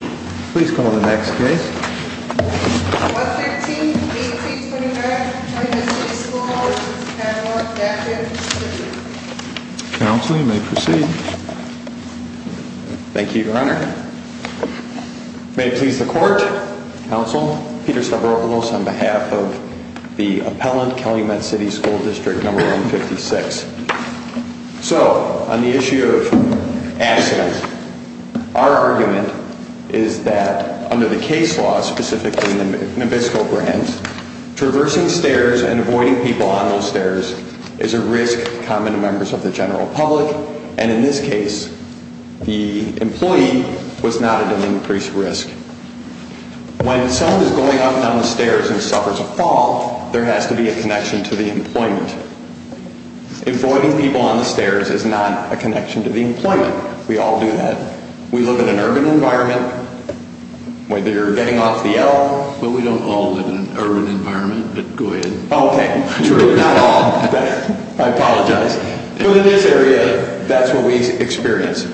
Please call the next case. 113-1825, Calumet City School District No. 156. Counsel, you may proceed. Thank you, your honor. May it please the court, counsel, Peter Stavropoulos on behalf of the appellant, Calumet City School District No. 156. So, on the issue of accidents, our argument is that under the case law, specifically Nabisco Grants, traversing stairs and avoiding people on those stairs is a risk common to members of the general public, and in this case, the employee was not at an increased risk. When someone is going up and down the stairs and suffers a fall, there has to be a connection to the employment. We all do that. We live in an urban environment, whether you're getting off the L. Well, we don't all live in an urban environment, but go ahead. Okay, true, not all. I apologize. But in this area, that's what we experience.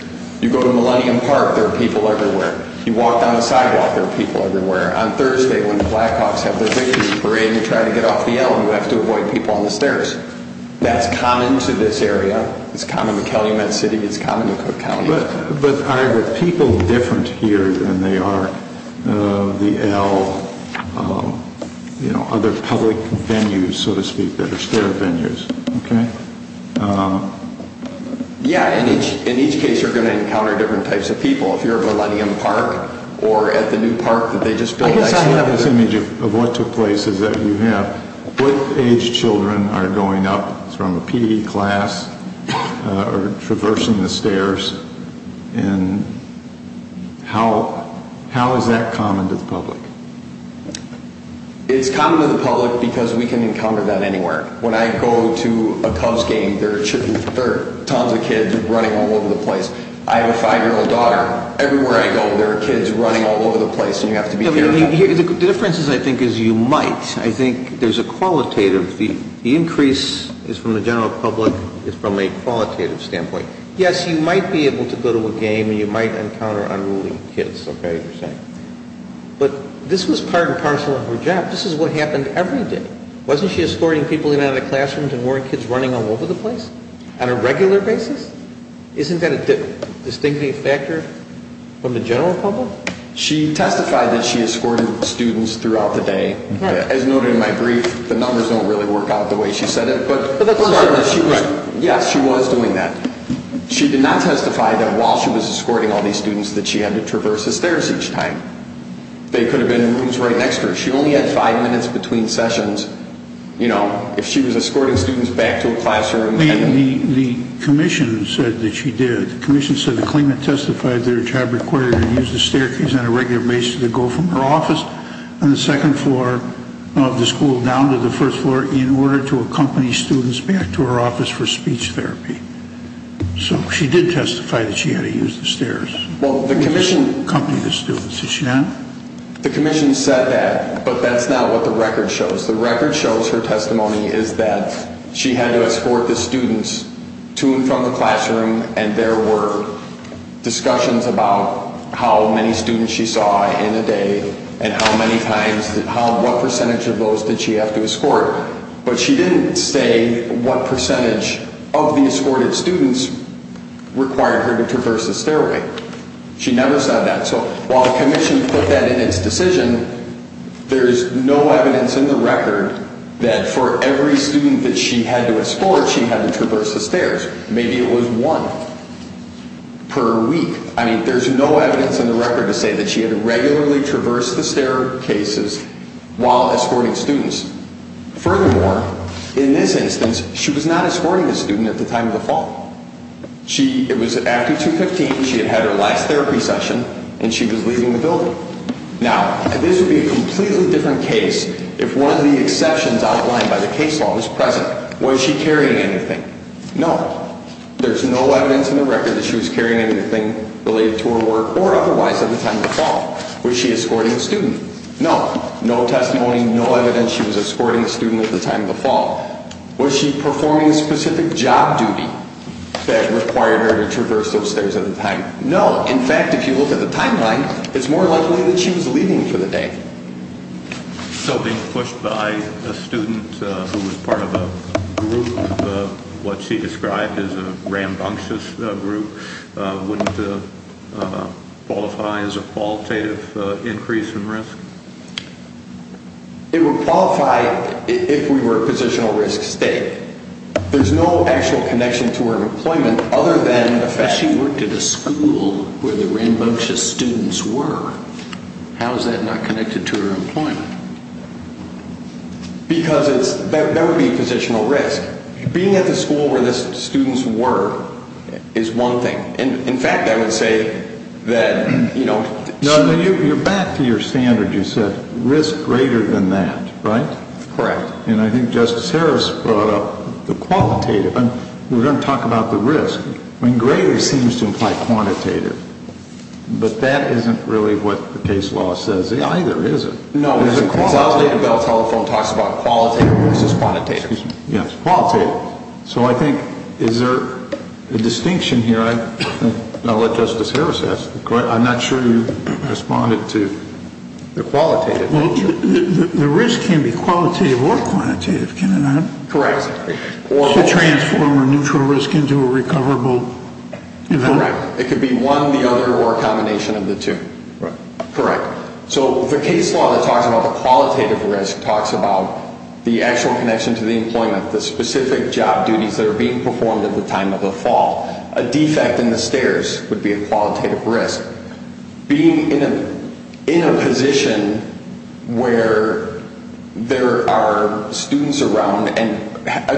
You go to Millennium Park, there are people everywhere. You walk down the sidewalk, there are people everywhere. On Thursday, when the Blackhawks have their victory parade and you try to get off the L, you have to avoid people on the stairs. That's common to this area. It's common to Ellumet City, it's common to Cook County. But are the people different here than they are the L, you know, other public venues, so to speak, that are stair venues, okay? Yeah, in each case you're going to encounter different types of people. If you're at Millennium Park or at the new park that they just built. I guess I have this image of what took place is that you have, what age children are going up from a PE class or traversing the stairs and how is that common to the public? It's common to the public because we can encounter that anywhere. When I go to a Cubs game, there are tons of kids running all over the place. I have a five-year-old daughter. Everywhere I go, there are kids running all over the place and you have to be careful. The difference, I think, is you might. I think there's a qualitative, the increase is from the general public, is from a qualitative standpoint. Yes, you might be able to go to a game and you might encounter unruly kids, okay, as you're saying. But this was part and parcel of her job. This is what happened every day. Wasn't she escorting people in and out of the classrooms and weren't kids running all over the place on a regular basis? Isn't that a distinctly factor from the general public? She testified that she escorted students throughout the day. As noted in my brief, the numbers don't really work out the way she said it. Yes, she was doing that. She did not testify that while she was escorting all these students that she had to traverse the stairs each time. They could have been in rooms right next to her. She only had five minutes between sessions. You know, if she was escorting students back to a classroom The commission said that she did. The commission said that Klingman testified that her job required her to use the staircase on a regular basis to go from her office on the second floor of the school down to the first floor in order to accompany students back to her office for speech therapy. So she did testify that she had to use the stairs to accompany the students. Did she not? The commission said that, but that's not what the record shows. Her testimony is that she had to escort the students to and from the classroom and there were discussions about how many students she saw in a day and how many times, what percentage of those did she have to escort? But she didn't say what percentage of the escorted students required her to traverse the stairway. She never said that. So while every student that she had to escort, she had to traverse the stairs. Maybe it was one per week. I mean, there's no evidence in the record to say that she had to regularly traverse the staircases while escorting students. Furthermore, in this instance, she was not escorting a student at the time of the fall. It was after 2.15, she had had her last therapy session and she was leaving the building. Now, this would be a completely different case if one of the exceptions outlined by the case law was present. Was she carrying anything? No. There's no evidence in the record that she was carrying anything related to her work or otherwise at the time of the fall. Was she escorting a student? No. No testimony, no evidence she was escorting a student at the time of the fall. Was she performing a specific job duty that required her to traverse those stairs at the time? No. In fact, if you look at the timeline, it's more likely that she was leaving for the day. So being pushed by a student who was part of a group, what she described as a rambunctious group, wouldn't qualify as a qualitative increase in risk? It would qualify if we were a positional risk state. There's no actual connection to her employment other than the fact she worked at a school where the rambunctious students were. How is that not connected to her employment? Because that would be a positional risk. Being at the school where the students were is one thing. In fact, I would say that... No, no, you're back to your standard. You said risk greater than that, right? Correct. And I think Justice Harris brought up the qualitative. We're going to talk about the qualitative. But that isn't really what the case law says either, is it? No, the qualitative telephone talks about qualitative versus quantitative. Yes, qualitative. So I think, is there a distinction here? I'll let Justice Harris ask. I'm not sure you responded to the qualitative. The risk can be qualitative or quantitative, can it not? Correct. To transform a neutral risk into a recoverable event. Correct. It could be one, the other, or a combination of the two. Correct. Correct. So the case law that talks about the qualitative risk talks about the actual connection to the employment, the specific job duties that are being performed at the time of the fall. A defect in the stairs would be a qualitative risk. Being in a position where there are students around and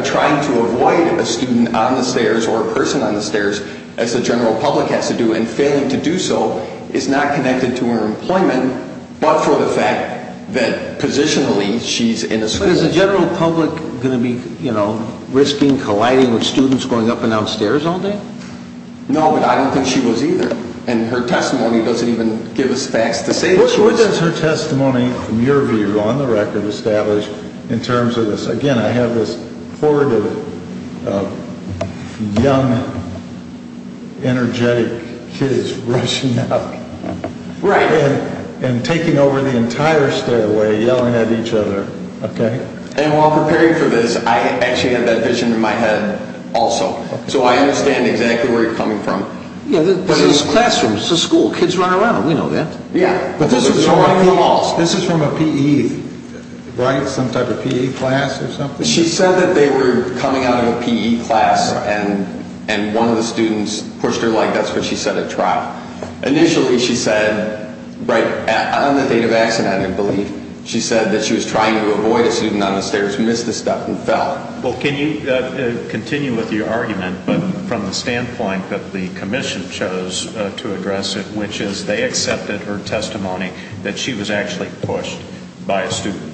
trying to avoid a student on the stairs or a person on the stairs, as the general public has to do, and failing to do so, is not connected to her employment, but for the fact that positionally she's in a school. But is the general public going to be, you know, risking colliding with students going up and down stairs all day? No, but I don't think she was either. And her testimony doesn't even give us facts to say that she was. What does her testimony, from your view, on the record, establish in terms of this? Again, I have this horde of young, energetic kids rushing up and taking over the entire stairway yelling at each other. And while preparing for this, I actually had that vision in my head also. So I understand exactly where you're coming from. But it's classrooms. It's a school. Kids run around. We know that. But this is from a P.E., right? Some type of P.E. class or something? She said that they were coming out of a P.E. class, and one of the students pushed her like that's what she said at trial. Initially, she said, right on the date of accident, I believe, she said that she was trying to avoid a student on the stairs who missed the step and fell. Well, can you continue with your argument, but from the standpoint that the commission chose to address it, which is they accepted her testimony that she was actually pushed by a student.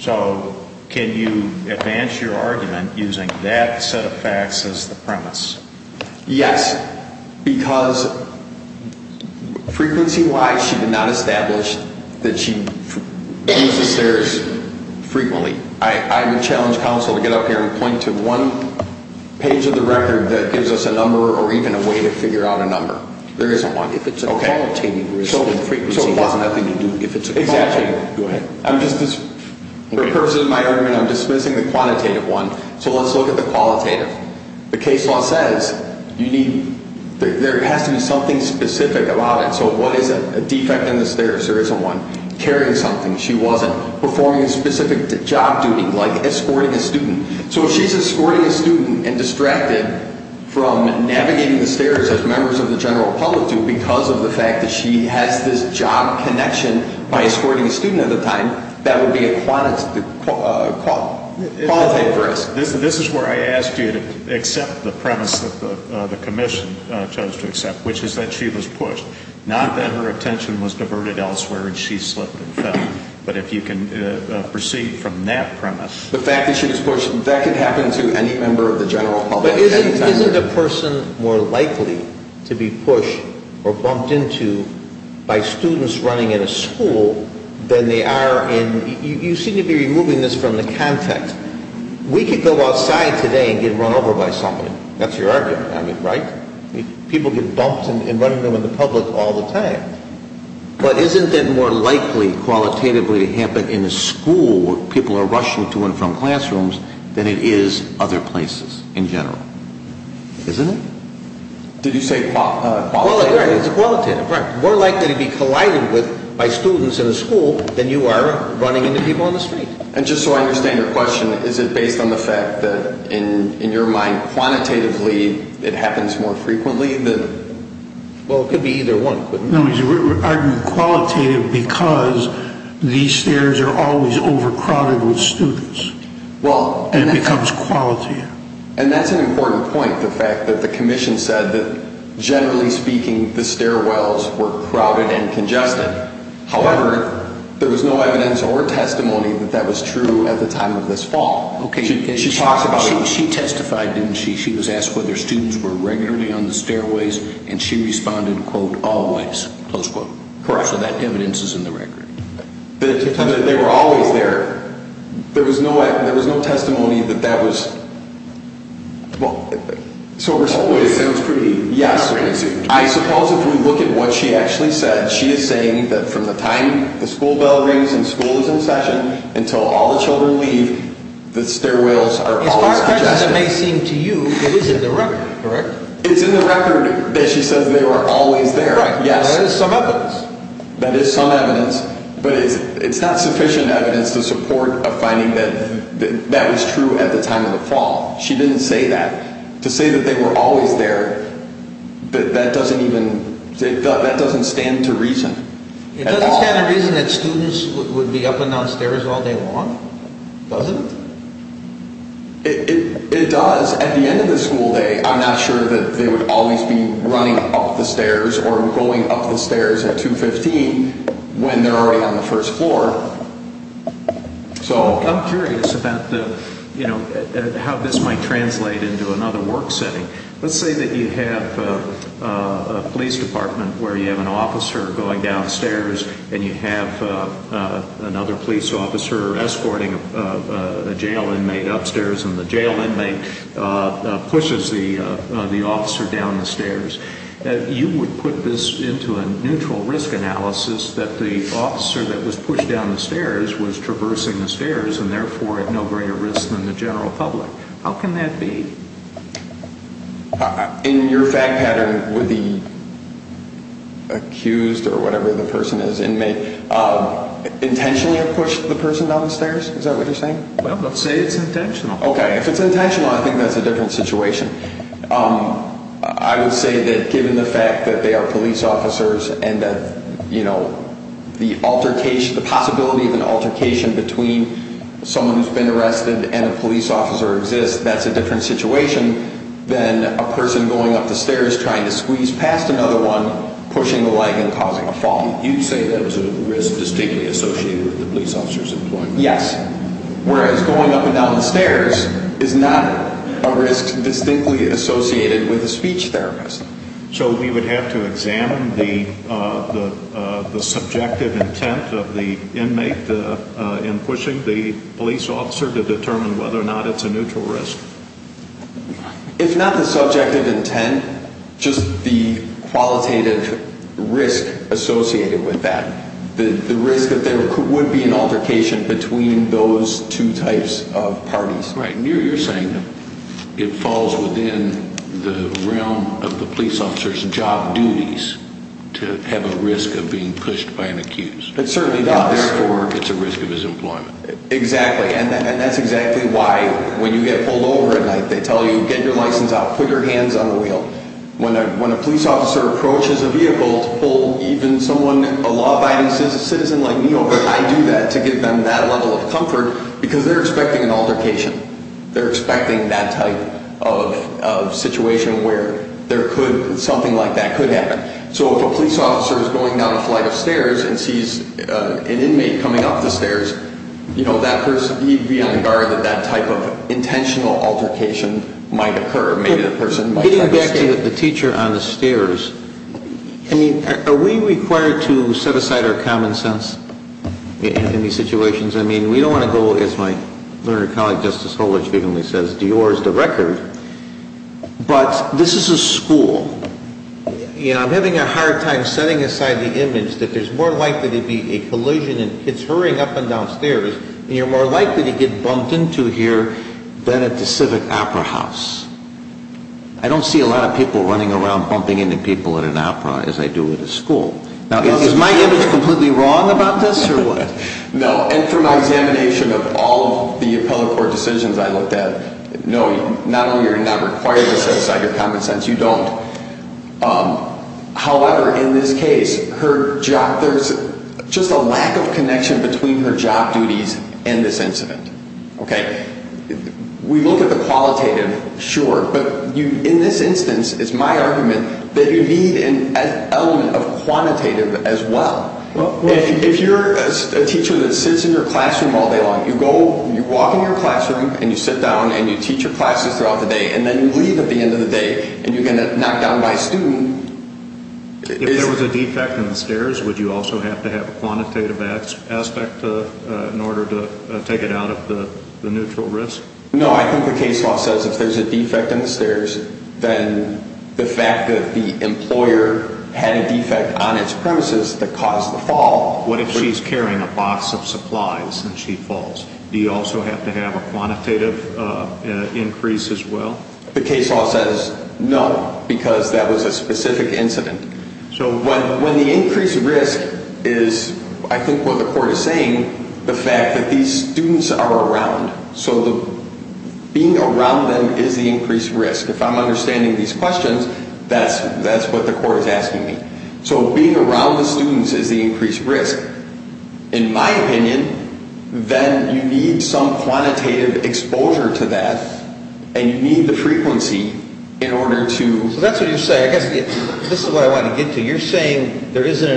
So can you advance your argument using that set of facts as the premise? Yes, because frequency-wise, she did not establish that she used the stairs frequently. I would challenge counsel to get up here and point to one page of the record that gives us a number or even a way to figure out a number. There isn't one. If it's a qualitative reason, frequency-wise, nothing to do. Exactly. Go ahead. For purposes of my argument, I'm dismissing the quantitative one. So let's look at the qualitative. The case law says there has to be something specific about it. So what is a defect in the stairs? There isn't one. Carrying something, she wasn't. Performing a specific job duty, like escorting a student. So if she's escorting a student and distracted from navigating the stairs as members of the general public do because of the fact that she has this job connection by escorting a student at the time, that would be a qualitative risk. This is where I asked you to accept the premise that the commission chose to accept, which is that she was pushed. Not that her attention was diverted elsewhere and she slipped and The fact that she was pushed, that could happen to any member of the general public. But isn't a person more likely to be pushed or bumped into by students running in a school than they are in... You seem to be removing this from the context. We could go outside today and get run over by somebody. That's your argument, right? People get bumped and run over by the public all the time. But isn't it more likely qualitatively to happen in a school where people are rushing to and from classrooms than it is other places in general? Isn't it? Did you say qualitatively? It's qualitative, right. More likely to be collided with by students in a school than you are running into people on the street. And just so I understand your question, is it based on the fact that in your mind, quantitatively, it happens more frequently than... Well, it could be either one. No, he's arguing qualitative because these stairs are always overcrowded with students. And it becomes qualitative. And that's an important point, the fact that the commission said that generally speaking, the stairwells were crowded and congested. However, there was no evidence or testimony that that was true at the time of this fall. She testified and she was asked whether students were regularly on the stairways and she responded, quote, always, close quote. Correct. So that evidence is in the record. But they were always there. There was no testimony that that was... Well, it sounds pretty... Yes. I suppose if we look at what she actually said, she is saying that from the time the school bell rings and school is in session until all the children leave, the stairwells are always congested. It's hard to imagine, it may seem to you, it is in the record, correct? It's in the record that she says they were always there. Right. Yes. That is some evidence. That is some evidence. But it's not sufficient evidence to support a finding that that was true at the time of the fall. She didn't say that. To say that they were always there, that doesn't even... Does that happen downstairs all day long? Does it? It does. At the end of the school day, I'm not sure that they would always be running up the stairs or going up the stairs at 2.15 when they're already on the first floor. So... I'm curious about the, you know, how this might translate into another work setting. Let's say that you have a police department where you have an officer going downstairs and you have another police officer escorting a jail inmate upstairs and the jail inmate pushes the officer down the stairs. You would put this into a neutral risk analysis that the officer that was pushed down the stairs was traversing the stairs and therefore at no greater risk than the general public. How can that be? In your fact pattern, would the accused or whatever the person is, inmate, intentionally push the person down the stairs? Is that what you're saying? Well, let's say it's intentional. Okay. If it's intentional, I think that's a different situation. I would say that given the fact that they are police officers and that, you know, the altercation, the possibility of an altercation between someone who's been arrested and a police officer exists, that's a different situation than a person going up the stairs trying to squeeze past another one, pushing a leg and causing a fall. You'd say that was a risk distinctly associated with the police officer's employment? Yes. Whereas going up and down the stairs is not a risk distinctly associated with a speech therapist. So we would have to examine the subjective intent of the inmate in pushing the police officer to determine whether or not it's a neutral risk. If not the subjective intent, just the qualitative risk associated with that, the risk that there would be an altercation between those two types of parties. Right. And you're saying that it falls within the realm of the police officer's job duties to have a risk of being pushed by an accused. It certainly does. Therefore, it's a risk of his employment. Exactly. And that's exactly why when you get pulled over at night, they tell you, get your license out, put your hands on the wheel. When a police officer approaches a vehicle to pull even someone, a law-abiding citizen like me over, I do that to give them that level of comfort because they're expecting an altercation. They're expecting that type of situation where there could, something like that could happen. So if a police officer is going down a flight of stairs and sees an inmate coming up the stairs, you know, that person, he'd be on the guard that that type of intentional altercation might occur. Maybe the person might try to escape. Getting back to the teacher on the stairs, I mean, are we required to set aside our common sense in these situations? I mean, we don't want to go, as my learned colleague, Justice Holedge, frequently says, Dior is the record. But this is a school. You know, I'm having a hard time setting aside the image that there's more likely to be a collision and kids hurrying up and down stairs, and you're more likely to get bumped into here than at the civic opera house. I don't see a lot of people running around bumping into people at an opera as I do at a school. Now, is my image completely wrong about this or what? No. And from my examination of all of the appellate court decisions I looked at, no, not only are you not required to set aside your common sense, you don't. However, in this case, her job, there's just a lack of connection between her job duties and this argument that you need an element of quantitative as well. If you're a teacher that sits in your classroom all day long, you go, you walk in your classroom, and you sit down, and you teach your classes throughout the day, and then you leave at the end of the day, and you get knocked down by a student. If there was a defect in the stairs, would you also have to have a quantitative aspect in order to take it out of the neutral risk? No. I think the case law says if there's a defect in the stairs, then the fact that the employer had a defect on its premises that caused the fall... What if she's carrying a box of supplies and she falls? Do you also have to have a quantitative increase as well? The case law says no, because that was a specific incident. So... When the increased risk is, I think what the court is saying, the fact that these students are around, so being around them is the increased risk. If I'm understanding these questions, that's what the court is asking me. So being around the students is the increased risk. In my opinion, then you need some quantitative exposure to that, and you need the frequency in order to... So that's what you're saying. I guess this is what I want to get to. You're saying there should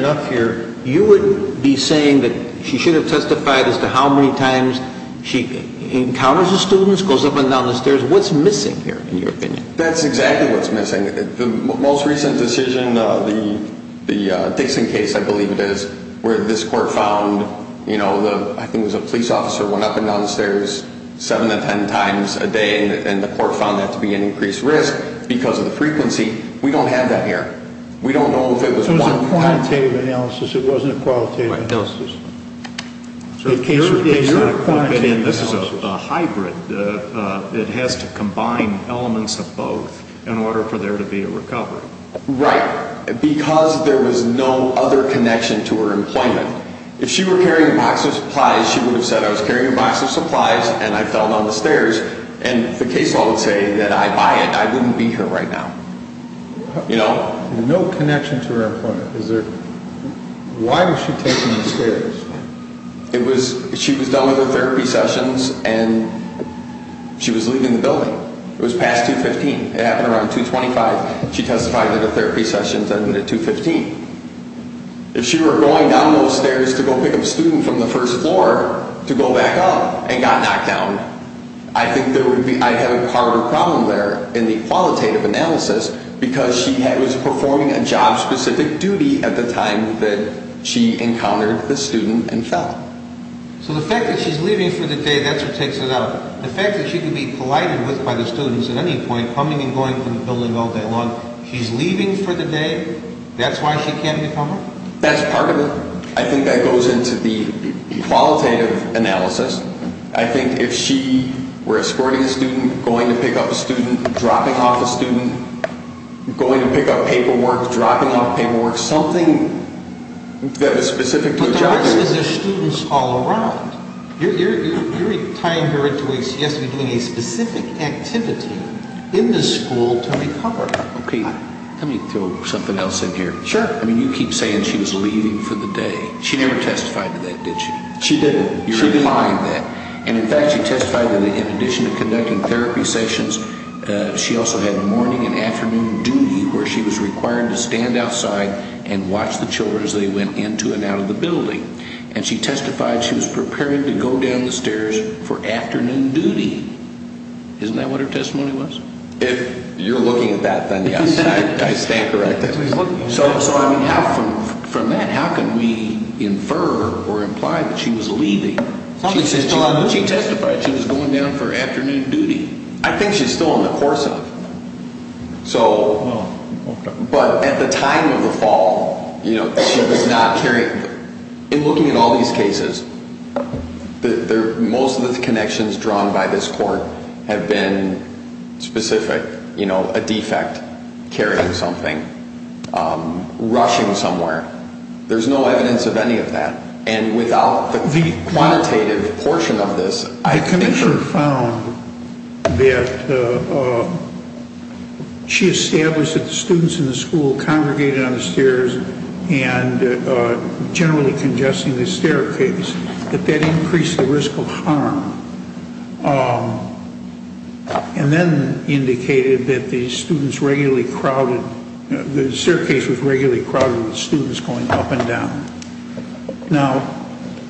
have testified as to how many times she encounters the students, goes up and down the stairs. What's missing here, in your opinion? That's exactly what's missing. The most recent decision, the Dixon case, I believe it is, where this court found, you know, I think it was a police officer went up and down the stairs seven to ten times a day, and the court found that to be an increased risk because of the frequency. We don't have that here. We don't know if it was one time... It wasn't a qualitative analysis. Right. No. So in your opinion, this is a hybrid. It has to combine elements of both in order for there to be a recovery. Right. Because there was no other connection to her employment. If she were carrying a box of supplies, she would have said, I was carrying a box of supplies, and I fell down the stairs, and the case law would say that I buy it, I wouldn't be here right now. You know? No. No connection to her employment. Is there... Why was she taking the stairs? It was... She was done with her therapy sessions, and she was leaving the building. It was past 2.15. It happened around 2.25. She testified that her therapy sessions ended at 2.15. If she were going down those stairs to go pick up a student from the first floor to go back up and got knocked down, I think there would be... I have a harder problem there in the case of performing a job-specific duty at the time that she encountered the student and fell. So the fact that she's leaving for the day, that's what takes it up. The fact that she could be collided with by the students at any point, coming and going from the building all day long, she's leaving for the day, that's why she can't become one? That's part of it. I think that goes into the qualitative analysis. I think if she were escorting a student, going to pick up a student, dropping off a student, going to pick up paperwork, dropping off paperwork, something that was specific to a job... But the problem is there's students all around. You're tying her into a... She has to be doing a specific activity in the school to recover. Okay. Let me throw something else in here. Sure. I mean, you keep saying she was leaving for the day. She never testified to that, did she? She didn't. You're implying that. And in fact, she testified that in addition to conducting therapy sessions, she also had morning and afternoon duty where she was required to stand outside and watch the children as they went into and out of the building. And she testified she was prepared to go down the stairs for afternoon duty. Isn't that what her testimony was? If you're looking at that, then yes. I stand corrected. So from that, how can we infer or imply that she was leaving? She testified she was going down for afternoon duty. I think she's still in the course of it. Oh, okay. But at the time of the fall, you know, she was not carrying... In looking at all these cases, most of the connections drawn by this court have been specific. You know, a defect carrying something, rushing somewhere. There's no evidence of any of that. And without the quantitative portion of this... The commissioner found that she established that the students in the school congregated on the stairs and generally congesting the staircase, that that increased the risk of The staircase was regularly crowded with students going up and down. Now,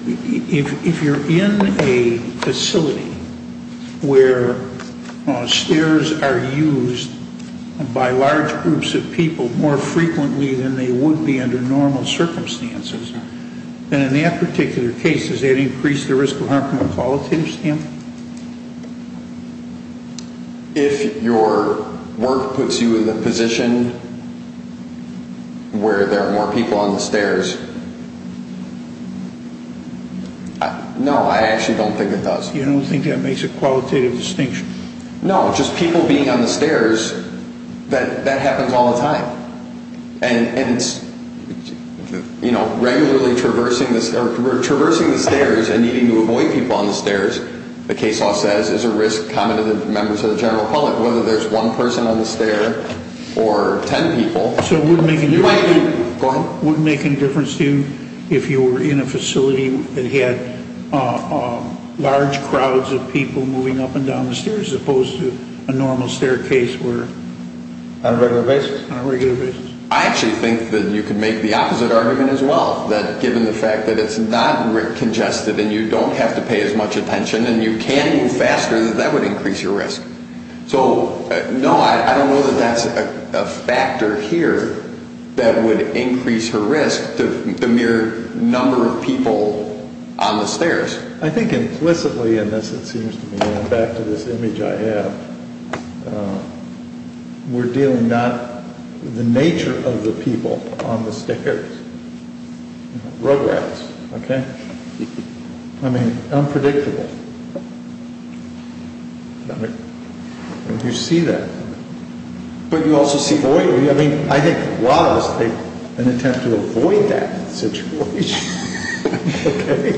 if you're in a facility where stairs are used by large groups of people more frequently than they would be under normal circumstances, then in that particular case, does that increase the risk of harm from a qualitative standpoint? If your work puts you in the position where there are more people on the stairs... No, I actually don't think it does. You don't think that makes a qualitative distinction? No, just people being on the stairs, that happens all the time. And, you know, regularly traversing the stairs and needing to avoid people on the stairs, the case law says, is a risk common to members of the general public. Whether there's one person on the stair or ten people... So it wouldn't make any difference to you if you were in a facility that had large crowds of people moving up and down the stairs as opposed to a normal staircase where... On a regular basis? On a regular basis. I actually think that you could make the opposite argument as well, that given the fact that it's not congested and you don't have to pay as much attention and you can move faster, that that would increase your risk. So, no, I don't know that that's a factor here that would increase your risk to the mere number of people on the stairs. I think implicitly in this, it seems to me, going back to this image I have, we're dealing not with the nature of the people on the stairs, you know, road rats, okay? I mean, unpredictable. You see that. But you also see... I mean, I think a lot of us take an attempt to avoid that situation, okay?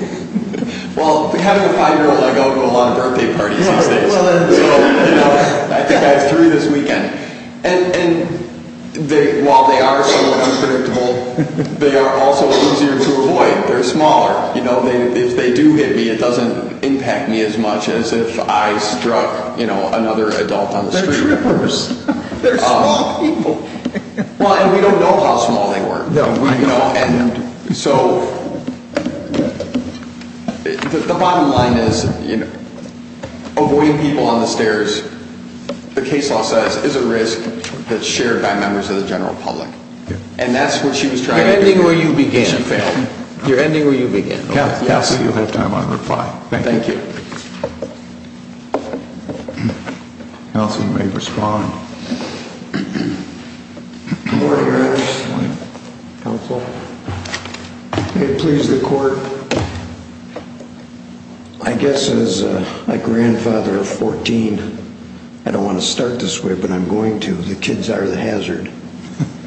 Well, having a five-year-old, I go to a lot of birthday parties these days. So, you know, I think I have three this weekend. And while they are somewhat unpredictable, they are also easier to avoid. They're smaller. You know, if they do hit me, it doesn't impact me as much as if I struck, you know, another adult on the street. They're small people. Well, and we don't know how small they were. No, we don't. So, the bottom line is, you know, avoiding people on the stairs, the case law says, is a risk that's shared by members of the general public. And that's what she was trying to do. You're ending where you began, Phil. You're ending where you began. Counsel, you'll have time on reply. Thank you. Okay. Counsel may respond. Good morning, Your Honor. Counsel. May it please the court. I guess as a grandfather of 14, I don't want to start this way, but I'm going to. The kids are the hazard.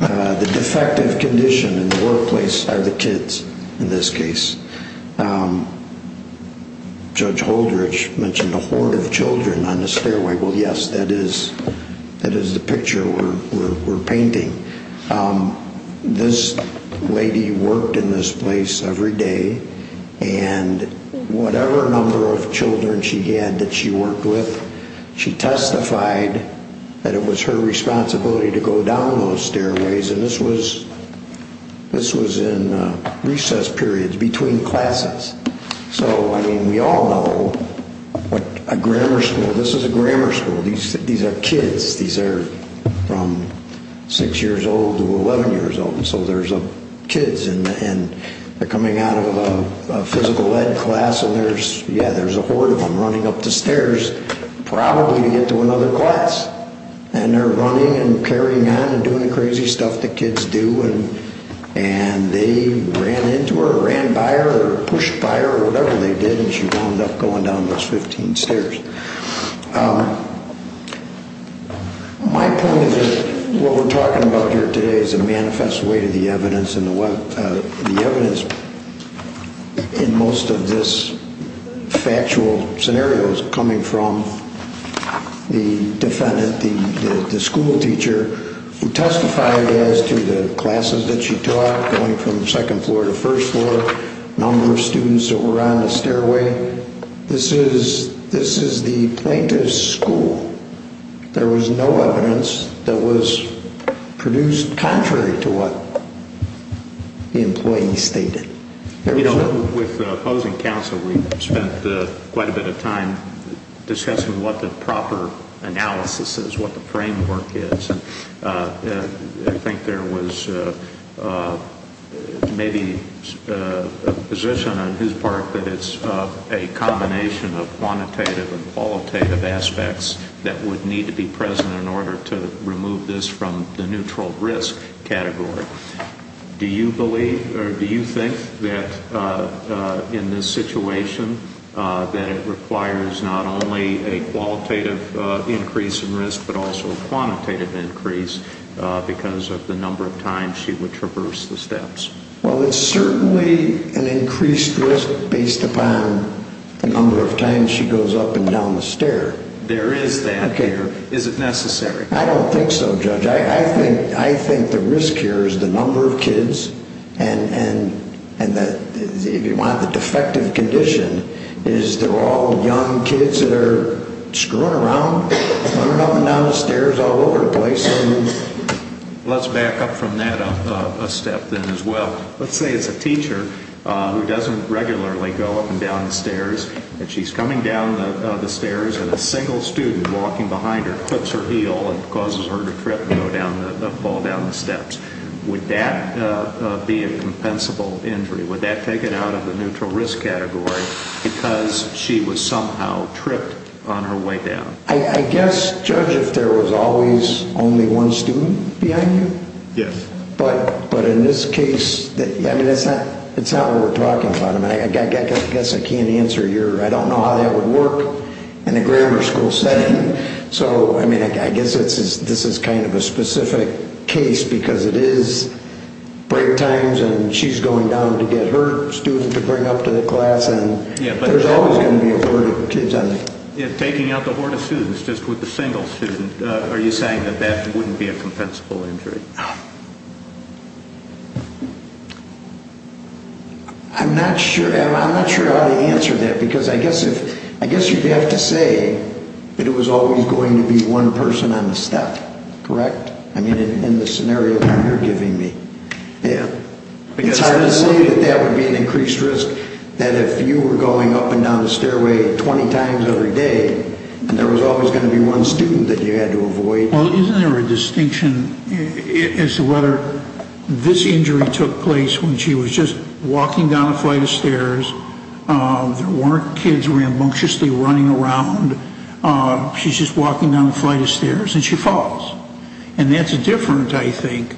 The defective condition in the workplace are the kids in this case. Judge Holdrich mentioned a hoard of children on the stairway. Well, yes, that is the picture we're painting. This lady worked in this place every day, and whatever number of children she had that she worked with, she testified that it was her responsibility to go down those stairways. And this was in recess periods between classes. So, I mean, we all know what a grammar school, this is a grammar school. These are kids. These are from 6 years old to 11 years old. And so there's kids, and they're coming out of a physical ed class, and there's, yeah, there's a hoard of them running up the stairs, probably to get to another class. And they're running and carrying on and doing the crazy stuff the kids do, and they ran into her or ran by her or pushed by her or whatever they did, and she wound up going down those 15 stairs. My point is that what we're talking about here today is a manifest way to the evidence, and the evidence in most of this factual scenario is coming from the defendant, the school teacher, who testified as to the classes that she taught, going from second floor to first floor, number of students that were on the stairway. This is the plaintiff's school. There was no evidence that was produced contrary to what the employee stated. You know, with opposing counsel, we spent quite a bit of time discussing what the proper analysis is, what the framework is, and I think there was maybe a position on his part that it's a combination of quantitative and qualitative aspects that would need to be present in order to remove this from the neutral risk category. Do you believe or do you think that in this situation that it requires not only a qualitative increase in risk but also a quantitative increase because of the number of times she would traverse the steps? Well, it's certainly an increased risk based upon the number of times she goes up and down the stair. There is that here. Is it necessary? I don't think so, Judge. I think the risk here is the number of kids and, if you want, the defective condition is they're all young kids that are screwing around, running up and down the stairs all over the place. Let's back up from that a step then as well. Let's say it's a teacher who doesn't regularly go up and down the stairs and she's coming down the stairs and a single student walking behind her clips her heel and causes her to trip and fall down the steps. Would that be a compensable injury? Would that take it out of the neutral risk category because she was somehow tripped on her way down? I guess, Judge, if there was always only one student behind you? Yes. But in this case, it's not what we're talking about. I guess I can't answer your, I don't know how that would work in a grammar school setting. So I guess this is kind of a specific case because it is break times and she's going down to get her student to bring up to the class and there's always going to be a horde of kids. Taking out the horde of students just with a single student, are you saying that that wouldn't be a compensable injury? I'm not sure how to answer that because I guess you'd have to say that it was always going to be one person on the step, correct? I mean in the scenario you're giving me. It's hard to say that that would be an increased risk, that if you were going up and down the stairway 20 times every day and there was always going to be one student that you had to avoid. Well, isn't there a distinction as to whether this injury took place when she was just walking down a flight of stairs, there weren't kids rambunctiously running around, she's just walking down a flight of stairs and she falls. And that's different, I think,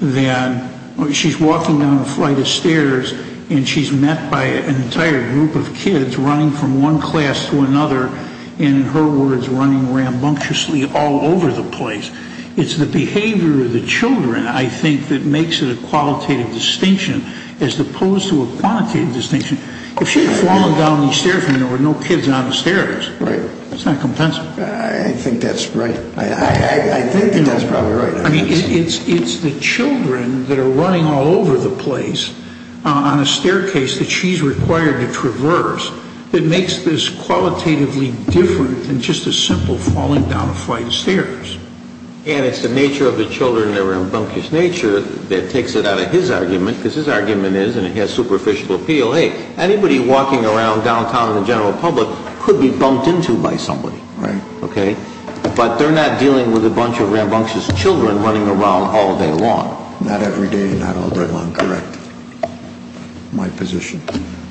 than she's walking down a flight of stairs and she's met by an entire group of kids running from one class to another and, in her words, running rambunctiously all over the place. It's the behavior of the children, I think, that makes it a qualitative distinction as opposed to a quantitative distinction. If she had fallen down these stairs and there were no kids on the stairs, it's not compensable. I think that's right. I think that's probably right. I mean, it's the children that are running all over the place on a staircase that she's required to traverse that makes this qualitatively different than just a simple falling down a flight of stairs. And it's the nature of the children, their rambunctious nature, that takes it out of his argument, because his argument is, and it has superficial appeal, hey, anybody walking around downtown in the general public could be bumped into by somebody. Right. But they're not dealing with a bunch of rambunctious children running around all day long. Not every day, not all day long, correct. My position.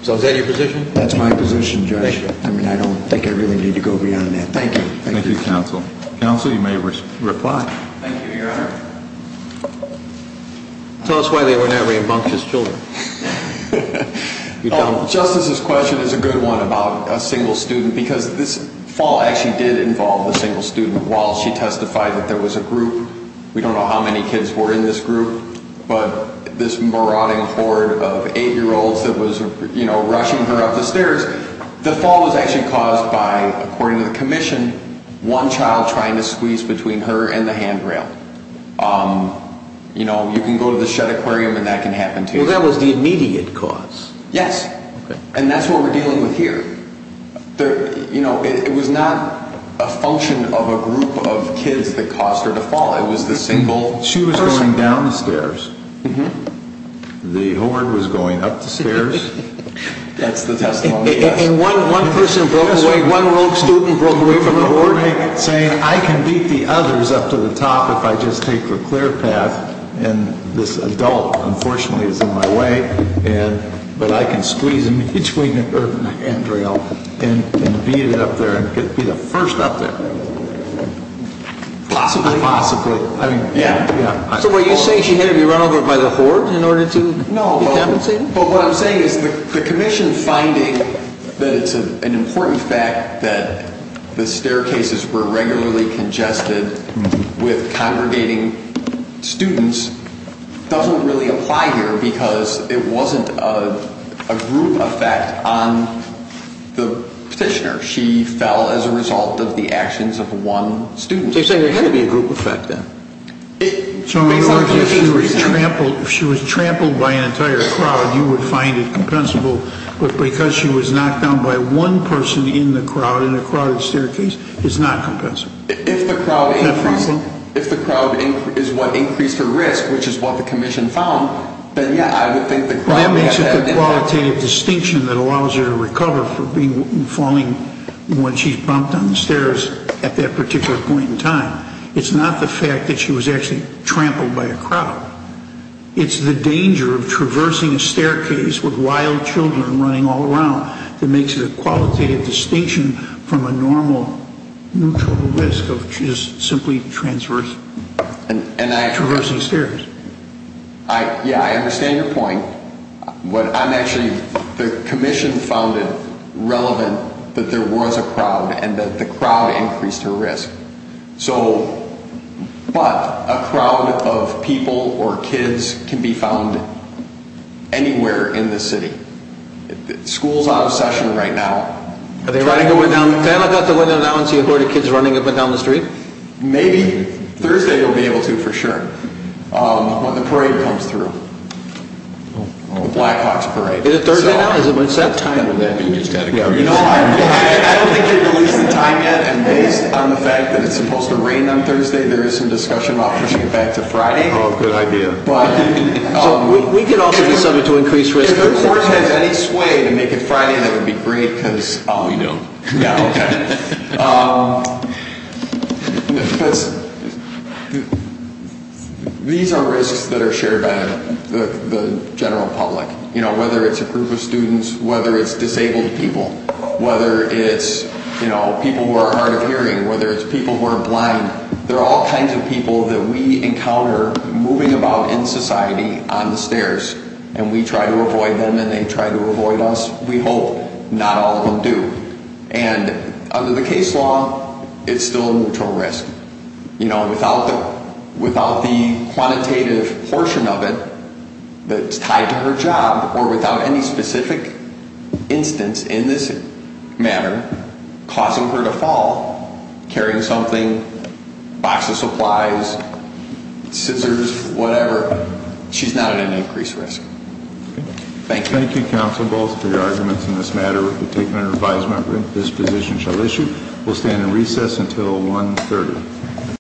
So is that your position? That's my position, Judge. I mean, I don't think I really need to go beyond that. Thank you. Thank you, Counsel. Counsel, you may reply. Thank you, Your Honor. Tell us why they were not rambunctious children. Justice's question is a good one about a single student because this fall actually did involve a single student. While she testified that there was a group, we don't know how many kids were in this group, but this marauding horde of eight-year-olds that was rushing her up the stairs, the fall was actually caused by, according to the commission, one child trying to squeeze between her and the handrail. You know, you can go to the Shedd Aquarium and that can happen to you. Well, that was the immediate cause. Yes, and that's what we're dealing with here. You know, it was not a function of a group of kids that caused her to fall. It was the single person. She was going down the stairs. The horde was going up the stairs. That's the testimony. And one person broke away, one rogue student broke away from the horde, saying, I can beat the others up to the top if I just take the clear path, and this adult, unfortunately, is in my way, but I can squeeze in between her and the handrail and beat it up there and be the first up there. Possibly. Possibly. So what you're saying is she had to be run over by the horde in order to compensate? No, but what I'm saying is the commission finding that it's an important fact that the staircases were regularly congested with congregating students doesn't really apply here because it wasn't a group effect on the petitioner. She fell as a result of the actions of one student. So you're saying there had to be a group effect then? So in other words, if she was trampled by an entire crowd, you would find it compensable, but because she was knocked down by one person in the crowd, in a crowded staircase, it's not compensable. If the crowd is what increased her risk, which is what the commission found, then, yeah, I would think the crowd would have had an impact. Well, that makes it the qualitative distinction that allows her to recover from falling when she's bumped on the stairs at that particular point in time. It's not the fact that she was actually trampled by a crowd. It's the danger of traversing a staircase with wild children running all around that makes it a qualitative distinction from a normal neutral risk of just simply traversing stairs. Yeah, I understand your point. Actually, the commission found it relevant that there was a crowd and that the crowd increased her risk. But a crowd of people or kids can be found anywhere in the city. Schools are out of session right now. Are they running away now? They're not going to have to run down and see a horde of kids running up and down the street? Maybe. Thursday they'll be able to, for sure, when the parade comes through. The Blackhawks parade. Is it Thursday now? Is that when it's set? I don't think they've released the time yet, and based on the fact that it's supposed to rain on Thursday, there is some discussion about pushing it back to Friday. Oh, good idea. We could also do something to increase risk. If the board has any sway to make it Friday, that would be great. We don't. These are risks that are shared by the general public, whether it's a group of students, whether it's disabled people, whether it's people who are hard of hearing, whether it's people who are blind. There are all kinds of people that we encounter moving about in society on the stairs, and we try to avoid them and they try to avoid us. We hope not all of them do. And under the case law, it's still a neutral risk. Without the quantitative portion of it that's tied to her job, or without any specific instance in this matter causing her to fall, carrying something, a box of supplies, scissors, whatever, she's not at an increased risk. Thank you. Thank you, Counsel Balls, for your arguments in this matter. We've taken an advisement that this position shall issue. We'll stand in recess until 1.30.